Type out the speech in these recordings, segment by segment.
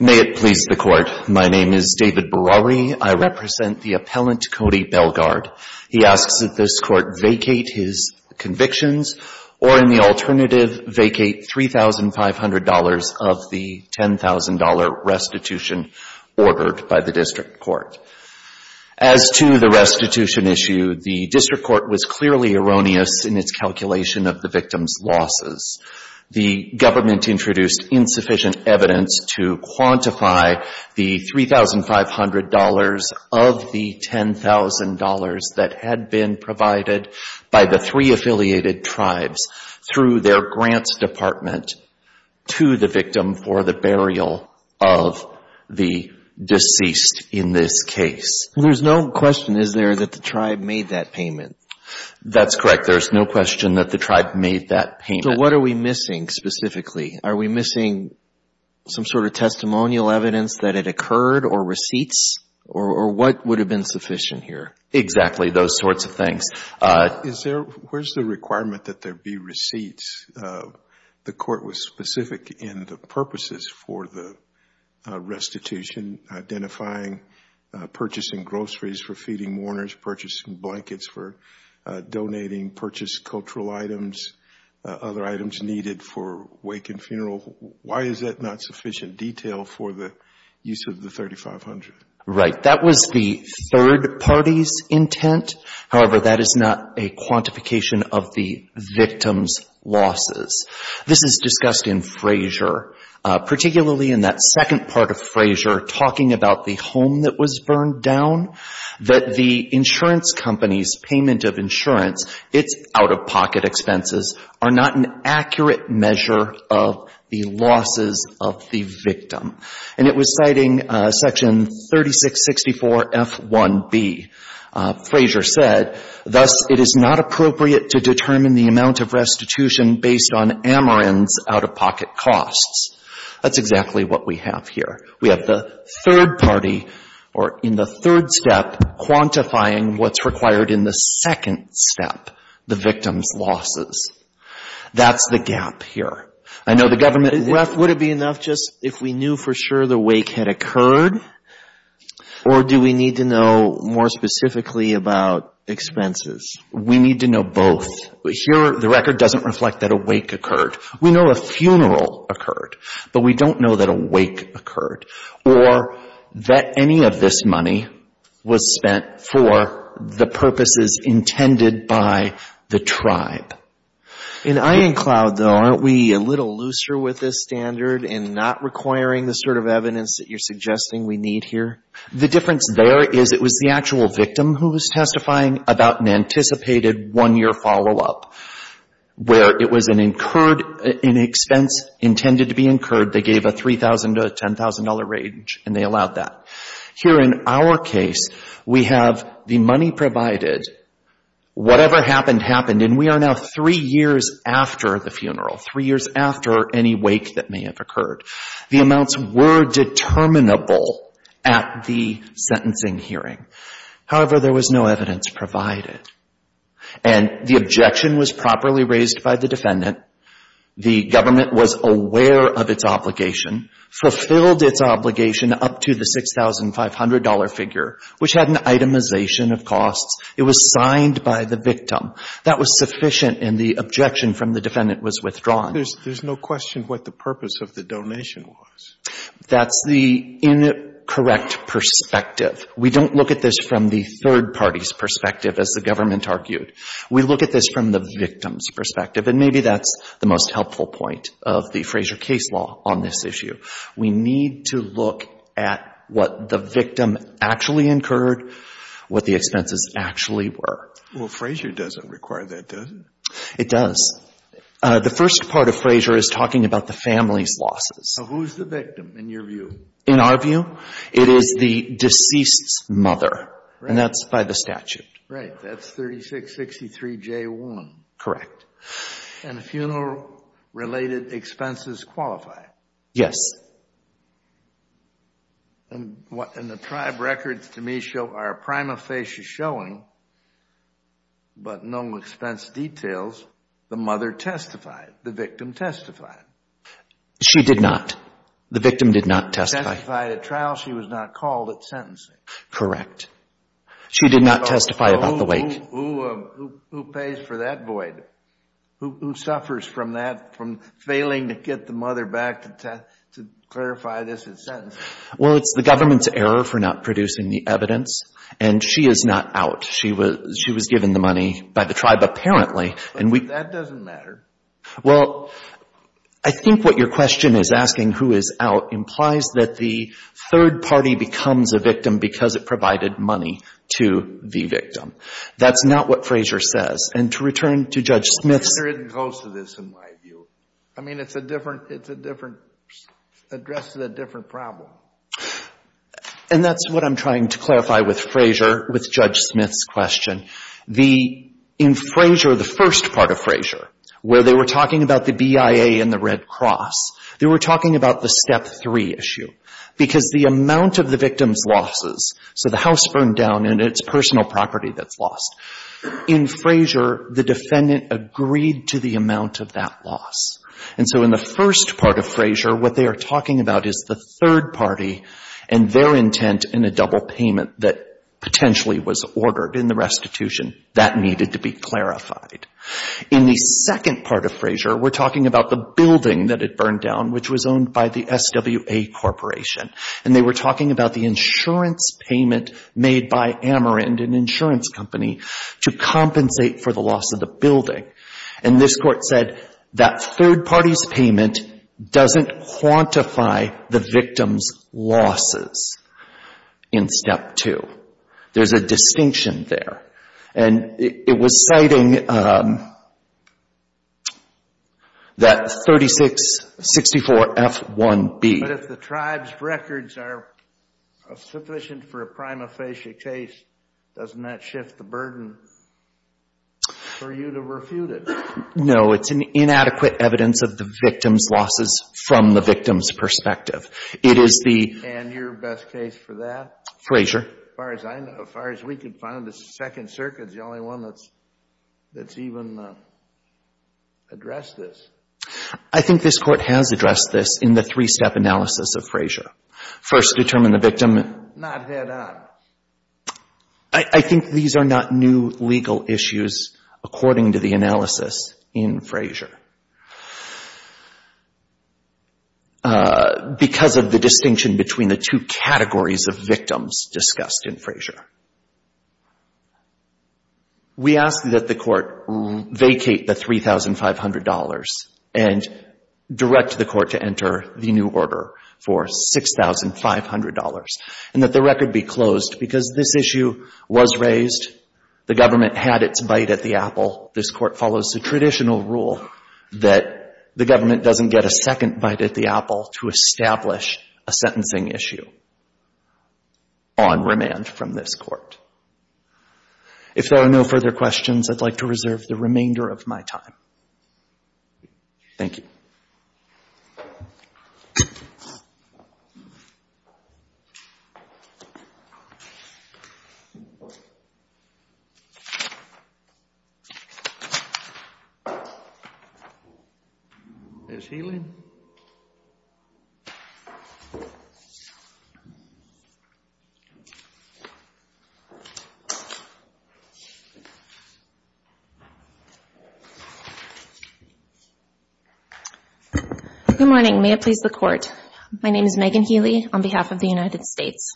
May it please the Court, my name is David Barari. I represent the appellant Cody Belgarde. He asks that this Court vacate his convictions, or in the alternative, vacate $3,500 of the $10,000 restitution ordered by the district court. As to the restitution issue, the district court was clearly erroneous in its calculation of the victim's losses. The government introduced insufficient evidence to quantify the $3,500 of the $10,000 that had been provided by the three affiliated tribes through their grants department to the victim for the burial of the deceased in this case. There's no question, is there, that the tribe made that payment? That's correct. There's no question that the tribe made that payment. So what are we missing specifically? Are we missing some sort of testimonial evidence that it occurred, or receipts, or what would have been sufficient here? Exactly, those sorts of things. Is there, where's the requirement that there be receipts? The Court was specific in the purposes for the restitution, identifying, purchasing groceries for feeding mourners, purchasing blankets for donating, purchase cultural items, other items needed for wake and funeral. Why is that not sufficient detail for the use of the $3,500? Right. That was the third party's intent. However, that is not a quantification of the victim's losses. This is discussed in Frazier, particularly in that second part of Frazier, talking about the home that was burned down, that the insurance company's payment of insurance, its out-of-pocket expenses, are not an accurate measure of the losses of the victim. And it was citing section 3664F1B. Frazier said, thus, it is not appropriate to determine the amount of restitution based on Ameren's out-of-pocket costs. That's exactly what we have here. We have the third party, or in the third step, quantifying what's required in the second step, the victim's losses. That's the gap here. Would it be enough just if we knew for sure the wake had occurred, or do we need to know more specifically about expenses? We need to know both. Here, the record doesn't reflect that a wake occurred. We know a funeral occurred, but we don't know that a wake occurred or that any of this money was spent for the purposes intended by the tribe. In Iancloud, though, aren't we a little looser with this standard in not requiring the sort of evidence that you're suggesting we need here? The difference there is it was the actual victim who was testifying about an anticipated one-year follow-up, where it was an incurred expense intended to be incurred. They gave a $3,000 to a $10,000 range, and they allowed that. Here in our case, we have the money provided, whatever happened, happened, and we are now three years after the funeral, three years after any wake that may have occurred. The amounts were determinable at the sentencing hearing. However, there was no evidence provided, and the objection was properly raised by the defendant. The government was aware of its obligation, fulfilled its obligation up to the $6,500 figure, which had an itemization of costs. It was signed by the victim. That was sufficient, and the objection from the defendant was withdrawn. There's no question what the purpose of the donation was. That's the incorrect perspective. We don't look at this from the third party's perspective, as the government argued. We look at this from the victim's perspective, and maybe that's the most helpful point of the Frazier case law on this issue. We need to look at what the victim actually incurred, what the expenses actually were. Well, Frazier doesn't require that, does it? It does. The first part of Frazier is talking about the family's losses. So who's the victim, in your view? In our view, it is the deceased's mother, and that's by the statute. Right. That's 3663J1. Correct. And the funeral-related expenses qualify. Yes. And the tribe records, to me, are a prima facie showing, but no expense details. The mother testified. The victim testified. She did not. The victim did not testify. She testified at trial. She was not called at sentencing. Correct. She did not testify about the weight. Who pays for that void? Who suffers from that, from failing to get the mother back to clarify this at sentencing? Well, it's the government's error for not producing the evidence, and she is not out. She was given the money by the tribe, apparently. That doesn't matter. Well, I think what your question is asking, who is out, implies that the third party becomes a victim because it provided money to the victim. That's not what Frazier says. And to return to Judge Smith's... It isn't close to this, in my view. I mean, it's a different address to the different problem. And that's what I'm trying to clarify with Frazier, with Judge Smith's question. In Frazier, the first part of Frazier, where they were talking about the BIA and the Red Cross, they were talking about the step three issue. Because the amount of the victim's losses, so the house burned down and it's personal property that's lost. In Frazier, the defendant agreed to the amount of that loss. And so in the first part of Frazier, what they are talking about is the third party and their intent in a double payment that potentially was ordered in the restitution. That needed to be clarified. In the second part of Frazier, we're talking about the building that had burned down, which was owned by the SWA Corporation. And they were talking about the insurance payment made by Amerind, an insurance company, to compensate for the loss of the building. And this court said that third party's payment doesn't quantify the victim's losses in step two. There's a distinction there. And it was citing that 3664F1B. But if the tribe's records are sufficient for a prima facie case, doesn't that shift the burden for you to refute it? No. It's an inadequate evidence of the victim's losses from the victim's perspective. And your best case for that? Frazier. As far as I know, as far as we can find, the Second Circuit is the only one that's even addressed this. I think this Court has addressed this in the three-step analysis of Frazier. First, determine the victim. Not head on. I think these are not new legal issues, according to the analysis in Frazier. Because of the distinction between the two categories of victims discussed in Frazier. We ask that the Court vacate the $3,500 and direct the Court to enter the new order for $6,500. And that the record be closed. Because this issue was raised. The government had its bite at the apple. This Court follows the traditional rule that the government doesn't get a second bite at the apple to establish a sentencing issue. On remand from this Court. If there are no further questions, I'd like to reserve the remainder of my time. Thank you. Is he in? Good morning. May it please the Court. My name is Megan Healy on behalf of the United States.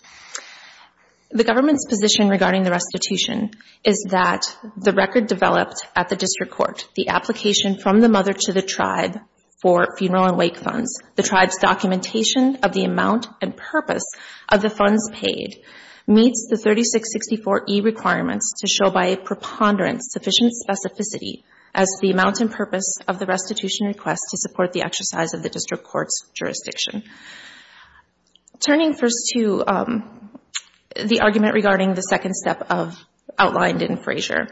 The government's position regarding the restitution is that the record developed at the District Court. The application from the mother to the tribe for funeral and wake funds. The tribe's documentation of the amount and purpose of the funds paid meets the 3664E requirements to show by a preponderance sufficient specificity as the amount and purpose of the restitution request to support the exercise of the District Court's jurisdiction. Turning first to the argument regarding the second step outlined in Frazier.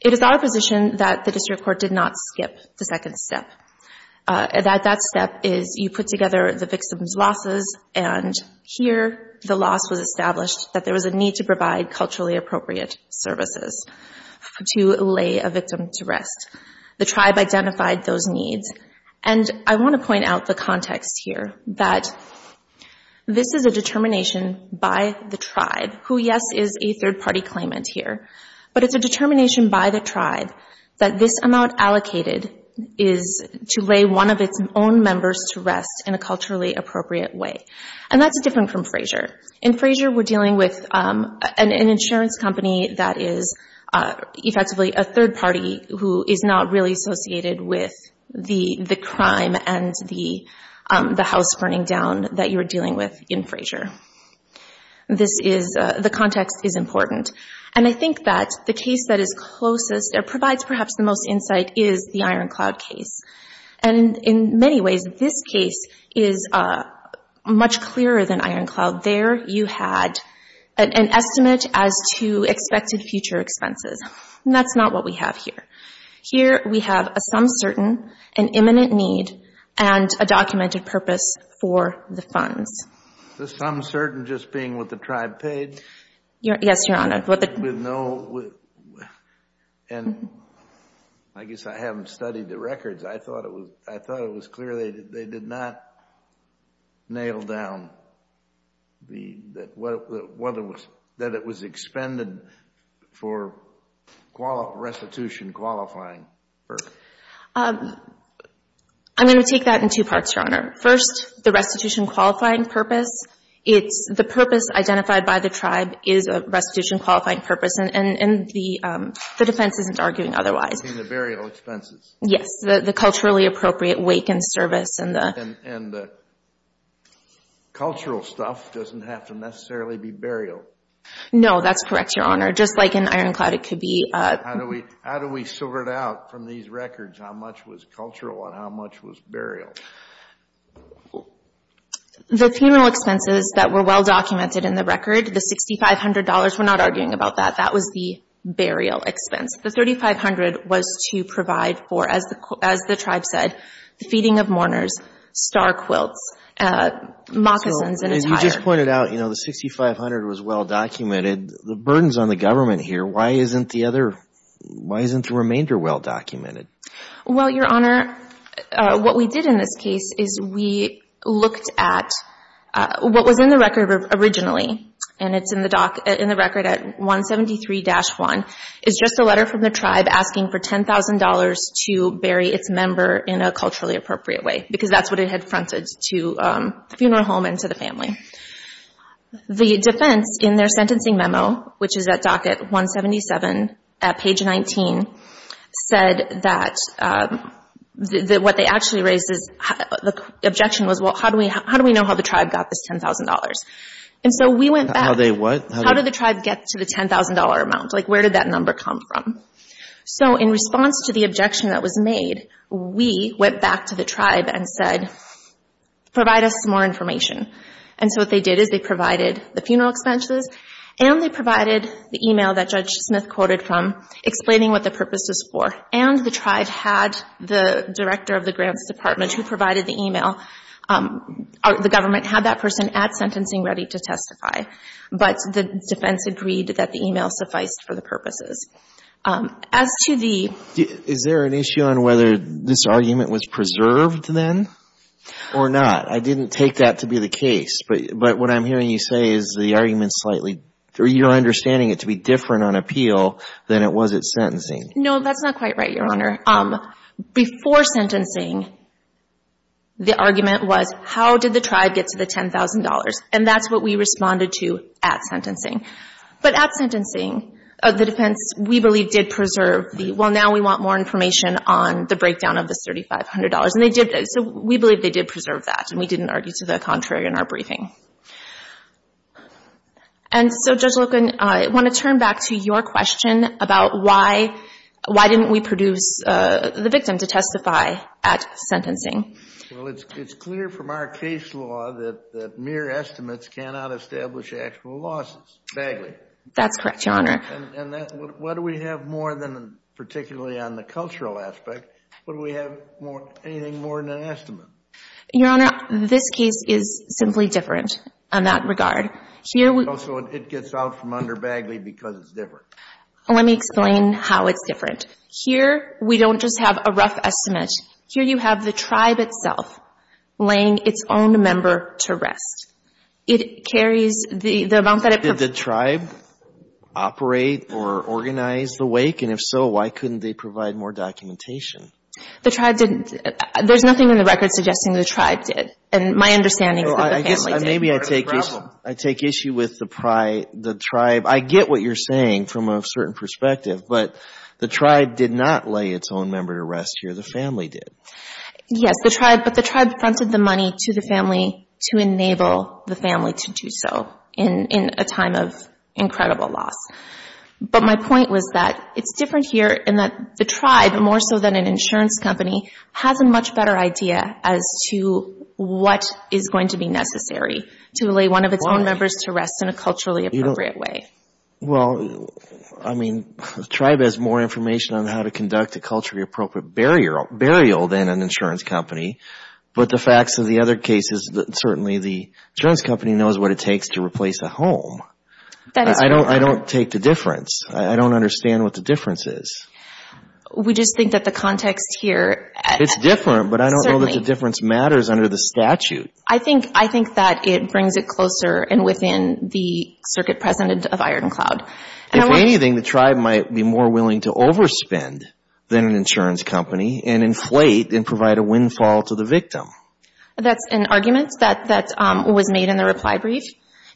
It is our position that the District Court did not skip the second step. That step is you put together the victim's losses and here the loss was established that there was a need to provide culturally appropriate services to lay a victim to rest. The tribe identified those needs. And I want to point out the context here that this is a determination by the tribe, who, yes, is a third-party claimant here, but it's a determination by the tribe that this amount allocated is to lay one of its own members to rest in a culturally appropriate way. And that's different from Frazier. In Frazier we're dealing with an insurance company that is effectively a third-party who is not really associated with the crime and the house burning down that you're dealing with in Frazier. This is, the context is important. And I think that the case that is closest or provides perhaps the most insight is the Iron Cloud case. And in many ways this case is much clearer than Iron Cloud. There you had an estimate as to expected future expenses. And that's not what we have here. Here we have a sum certain, an imminent need, and a documented purpose for the funds. The sum certain just being what the tribe paid? Yes, Your Honor. With no, and I guess I haven't studied the records. I thought it was clear they did not nail down that it was expended for restitution qualifying. I'm going to take that in two parts, Your Honor. First, the restitution qualifying purpose. It's the purpose identified by the tribe is a restitution qualifying purpose. And the defense isn't arguing otherwise. You mean the burial expenses? Yes. The culturally appropriate wake and service. And the cultural stuff doesn't have to necessarily be burial. No, that's correct, Your Honor. Just like in Iron Cloud it could be. How do we sort it out from these records, how much was cultural and how much was burial? The funeral expenses that were well-documented in the record, the $6,500, we're not arguing about that. That was the burial expense. The $3,500 was to provide for, as the tribe said, the feeding of mourners, star quilts, moccasins and attire. So as you just pointed out, you know, the $6,500 was well-documented. The burden's on the government here. Why isn't the other, why isn't the remainder well-documented? Well, Your Honor, what we did in this case is we looked at what was in the record originally, and it's in the record at 173-1. It's just a letter from the tribe asking for $10,000 to bury its member in a culturally appropriate way because that's what it had fronted to the funeral home and to the family. The defense in their sentencing memo, which is at docket 177 at page 19, said that what they actually raised is, the objection was, well, how do we know how the tribe got this $10,000? And so we went back. How they what? How did the tribe get to the $10,000 amount? Like, where did that number come from? So in response to the objection that was made, we went back to the tribe and said, provide us more information. And so what they did is they provided the funeral expenses and they provided the e-mail that Judge Smith quoted from explaining what the purpose is for. And the tribe had the director of the grants department who provided the e-mail. The government had that person at sentencing ready to testify. But the defense agreed that the e-mail sufficed for the purposes. As to the – Is there an issue on whether this argument was preserved then or not? I didn't take that to be the case. But what I'm hearing you say is the argument slightly – you're understanding it to be different on appeal than it was at sentencing. No, that's not quite right, Your Honor. Before sentencing, the argument was, how did the tribe get to the $10,000? And that's what we responded to at sentencing. But at sentencing, the defense, we believe, did preserve the – well, now we want more information on the breakdown of the $3,500. And they did – so we believe they did preserve that and we didn't argue to the contrary in our briefing. And so, Judge Loken, I want to turn back to your question about why – why didn't we produce the victim to testify at sentencing? Well, it's clear from our case law that mere estimates cannot establish actual losses. That's correct, Your Honor. And that – what do we have more than particularly on the cultural aspect? What do we have more – anything more than an estimate? Your Honor, this case is simply different on that regard. Also, it gets out from under Bagley because it's different. Let me explain how it's different. Here, we don't just have a rough estimate. Here you have the tribe itself laying its own member to rest. It carries the amount that it – Did the tribe operate or organize the wake? And if so, why couldn't they provide more documentation? The tribe didn't – there's nothing in the record suggesting the tribe did. And my understanding is that the family did. I guess maybe I take issue with the tribe. I get what you're saying from a certain perspective, but the tribe did not lay its own member to rest here. The family did. Yes, but the tribe fronted the money to the family to enable the family to do so in a time of incredible loss. But my point was that it's different here in that the tribe, more so than an insurance company, has a much better idea as to what is going to be necessary to lay one of its own members to rest in a culturally appropriate way. Well, I mean, the tribe has more information on how to conduct a culturally appropriate burial than an insurance company. But the facts of the other cases, certainly the insurance company knows what it takes to replace a home. I don't take the difference. I don't understand what the difference is. We just think that the context here – It's different, but I don't know that the difference matters under the statute. I think that it brings it closer and within the circuit precedent of Iron Cloud. If anything, the tribe might be more willing to overspend than an insurance company and inflate and provide a windfall to the victim. That's an argument that was made in the reply brief,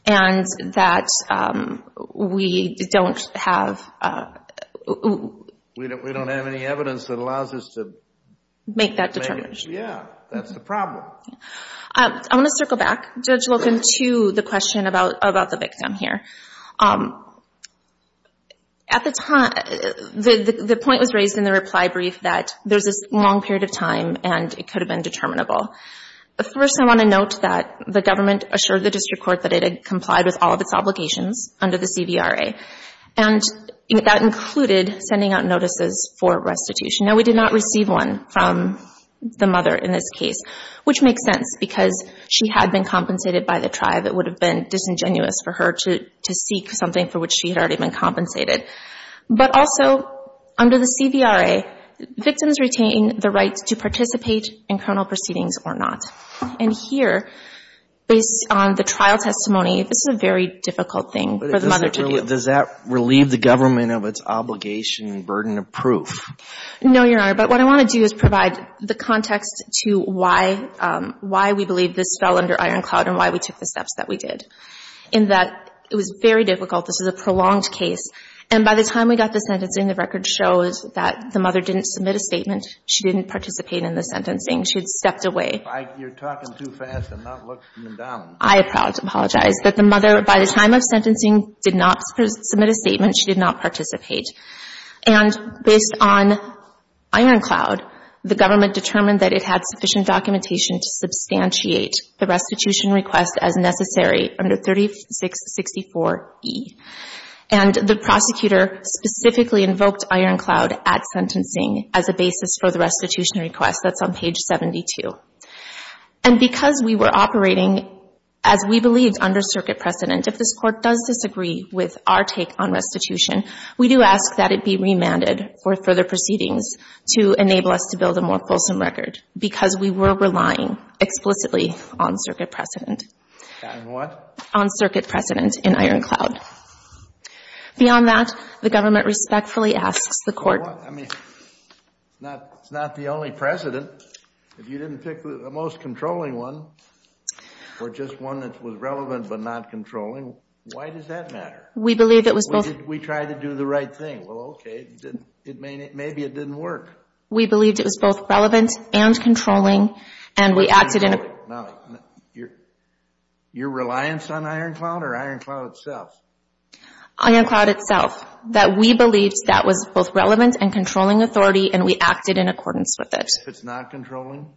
and that we don't have – We don't have any evidence that allows us to – Make that determination. Yeah, that's the problem. I want to circle back, Judge Wilkin, to the question about the victim here. At the time, the point was raised in the reply brief that there's this long period of time and it could have been determinable. First, I want to note that the government assured the district court that it had complied with all of its obligations under the CVRA, and that included sending out notices for restitution. Now, we did not receive one from the mother in this case, which makes sense because she had been compensated by the tribe. It would have been disingenuous for her to seek something for which she had already been compensated. But also, under the CVRA, victims retain the right to participate in criminal proceedings or not. And here, based on the trial testimony, this is a very difficult thing for the mother to do. Does that relieve the government of its obligation and burden of proof? No, Your Honor. But what I want to do is provide the context to why we believe this fell under iron cloud and why we took the steps that we did, in that it was very difficult. This is a prolonged case. And by the time we got to sentencing, the record shows that the mother didn't submit a statement. She didn't participate in the sentencing. She had stepped away. You're talking too fast. I'm not looking down. I apologize. But the mother, by the time of sentencing, did not submit a statement. She did not participate. And based on iron cloud, the government determined that it had sufficient documentation to substantiate the restitution request as necessary under 3664E. And the prosecutor specifically invoked iron cloud at sentencing as a basis for the restitution request. That's on page 72. And because we were operating, as we believed, under circuit precedent, if this Court does disagree with our take on restitution, we do ask that it be remanded for further proceedings to enable us to build a more fulsome record because we were relying explicitly on circuit precedent. On what? On circuit precedent in iron cloud. Beyond that, the government respectfully asks the Court. I mean, it's not the only precedent. If you didn't pick the most controlling one or just one that was relevant but not controlling, why does that matter? We believe it was both. We tried to do the right thing. Well, okay. Maybe it didn't work. We believed it was both relevant and controlling, and we acted in accordance. Now, your reliance on iron cloud or iron cloud itself? Iron cloud itself, that we believed that was both relevant and controlling authority, and we acted in accordance with it. If it's not controlling,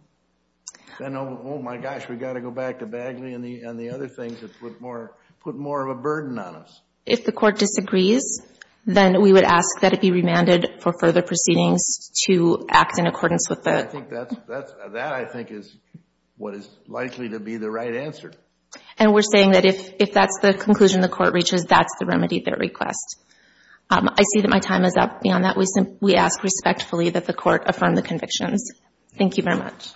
then, oh, my gosh, we've got to go back to Bagley and the other things that put more of a burden on us. If the Court disagrees, then we would ask that it be remanded for further proceedings to act in accordance with that. That, I think, is what is likely to be the right answer. And we're saying that if that's the conclusion the Court reaches, that's the remedy of their request. I see that my time is up. And on that, we ask respectfully that the Court affirm the convictions. Thank you very much.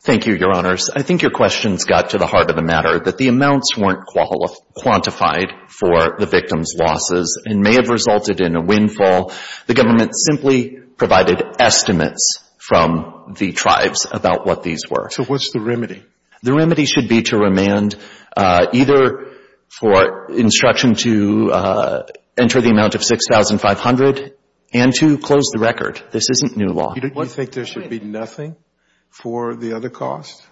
Thank you, Your Honors. I think your questions got to the heart of the matter, that the amounts weren't quantified for the victims' losses and may have resulted in a windfall. The government simply provided estimates from the tribes about what these were. So what's the remedy? The remedy should be to remand either for instruction to enter the amount of $6,500 and to close the record. This isn't new law. You think there should be nothing for the other costs?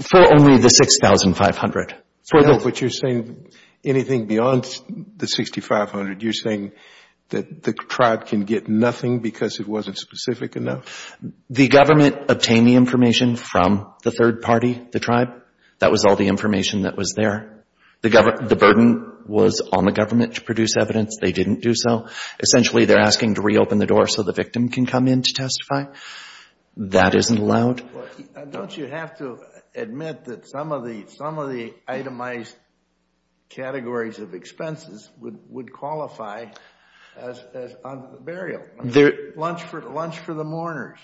For only the $6,500. No, but you're saying anything beyond the $6,500, you're saying that the tribe can get nothing because it wasn't specific enough? The government obtained the information from the third party, the tribe. That was all the information that was there. The burden was on the government to produce evidence. They didn't do so. Essentially, they're asking to reopen the door so the victim can come in to testify. That isn't allowed. Don't you have to admit that some of the itemized categories of expenses would qualify as burial, lunch for the mourners?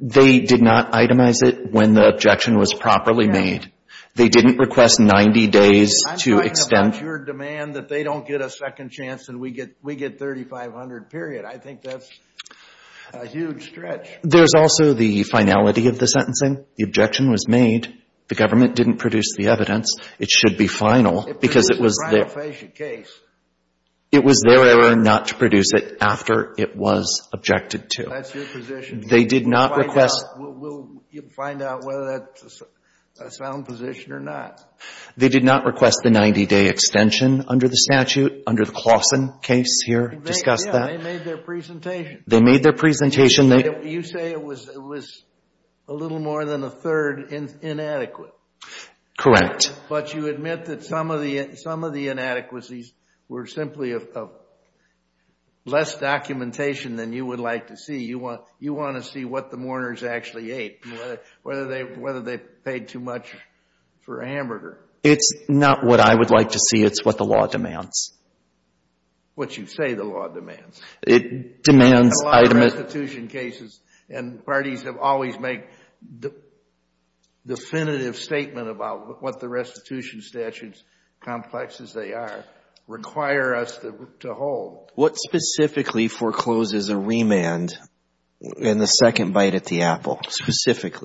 They did not itemize it when the objection was properly made. They didn't request 90 days to extend. It's your demand that they don't get a second chance and we get $3,500, period. I think that's a huge stretch. There's also the finality of the sentencing. The objection was made. The government didn't produce the evidence. It should be final because it was their error not to produce it after it was objected to. That's your position. They did not request. We'll find out whether that's a sound position or not. They did not request the 90-day extension under the statute, under the Claussen case here. Discussed that. They made their presentation. They made their presentation. You say it was a little more than a third inadequate. Correct. But you admit that some of the inadequacies were simply of less documentation than you would like to see. You want to see what the mourners actually ate. Whether they paid too much for a hamburger. It's not what I would like to see. It's what the law demands. What you say the law demands. It demands. A lot of restitution cases and parties have always made definitive statement about what the restitution statutes, complex as they are, require us to hold. What specifically forecloses a remand in the second bite at the apple?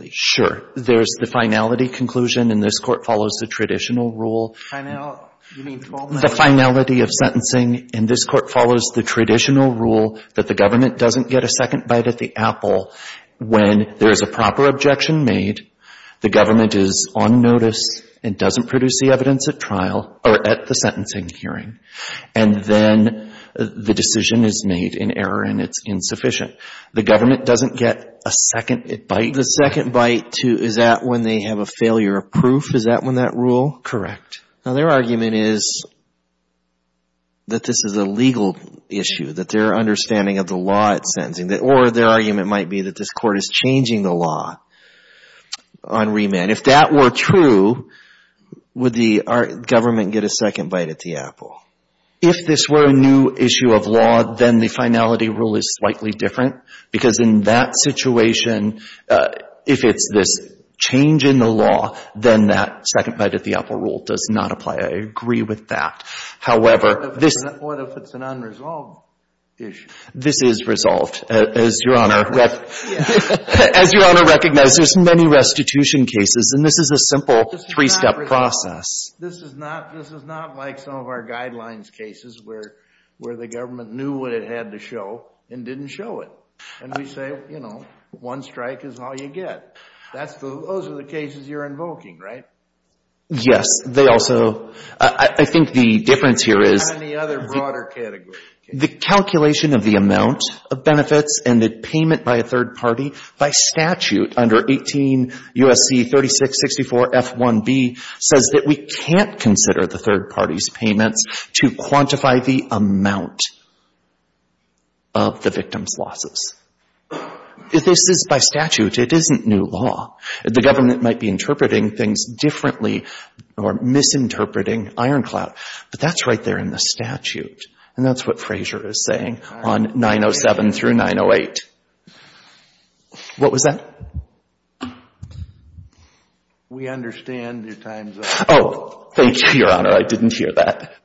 Sure. There's the finality conclusion, and this Court follows the traditional rule. The finality of sentencing. And this Court follows the traditional rule that the government doesn't get a second bite at the apple when there is a proper objection made, the government is on notice and doesn't produce the evidence at trial or at the sentencing hearing. And then the decision is made in error and it's insufficient. The government doesn't get a second bite. The second bite to, is that when they have a failure of proof? Is that when that rule? Now, their argument is that this is a legal issue, that their understanding of the law at sentencing, or their argument might be that this Court is changing the law on remand. If that were true, would the government get a second bite at the apple? If this were a new issue of law, then the finality rule is slightly different, because in that situation, if it's this change in the law, then that second bite at the apple rule does not apply. I agree with that. However, this — What if it's an unresolved issue? This is resolved. As Your Honor — Yeah. As Your Honor recognizes, there's many restitution cases, and this is a simple three-step process. This is not — this is not like some of our guidelines cases where the government knew what it had to show and didn't show it. And we say, you know, one strike is all you get. That's the — those are the cases you're invoking, right? Yes. They also — I think the difference here is — Any other broader category? The calculation of the amount of benefits and the payment by a third party, by statute under 18 U.S.C. 3664 F1b, says that we can't consider the third party's payments to quantify the amount of the victim's losses. If this is by statute, it isn't new law. The government might be interpreting things differently or misinterpreting ironclad, but that's right there in the statute. And that's what Frazier is saying on 907 through 908. What was that? We understand your time's up. Oh, thank you, Your Honor. I didn't hear that.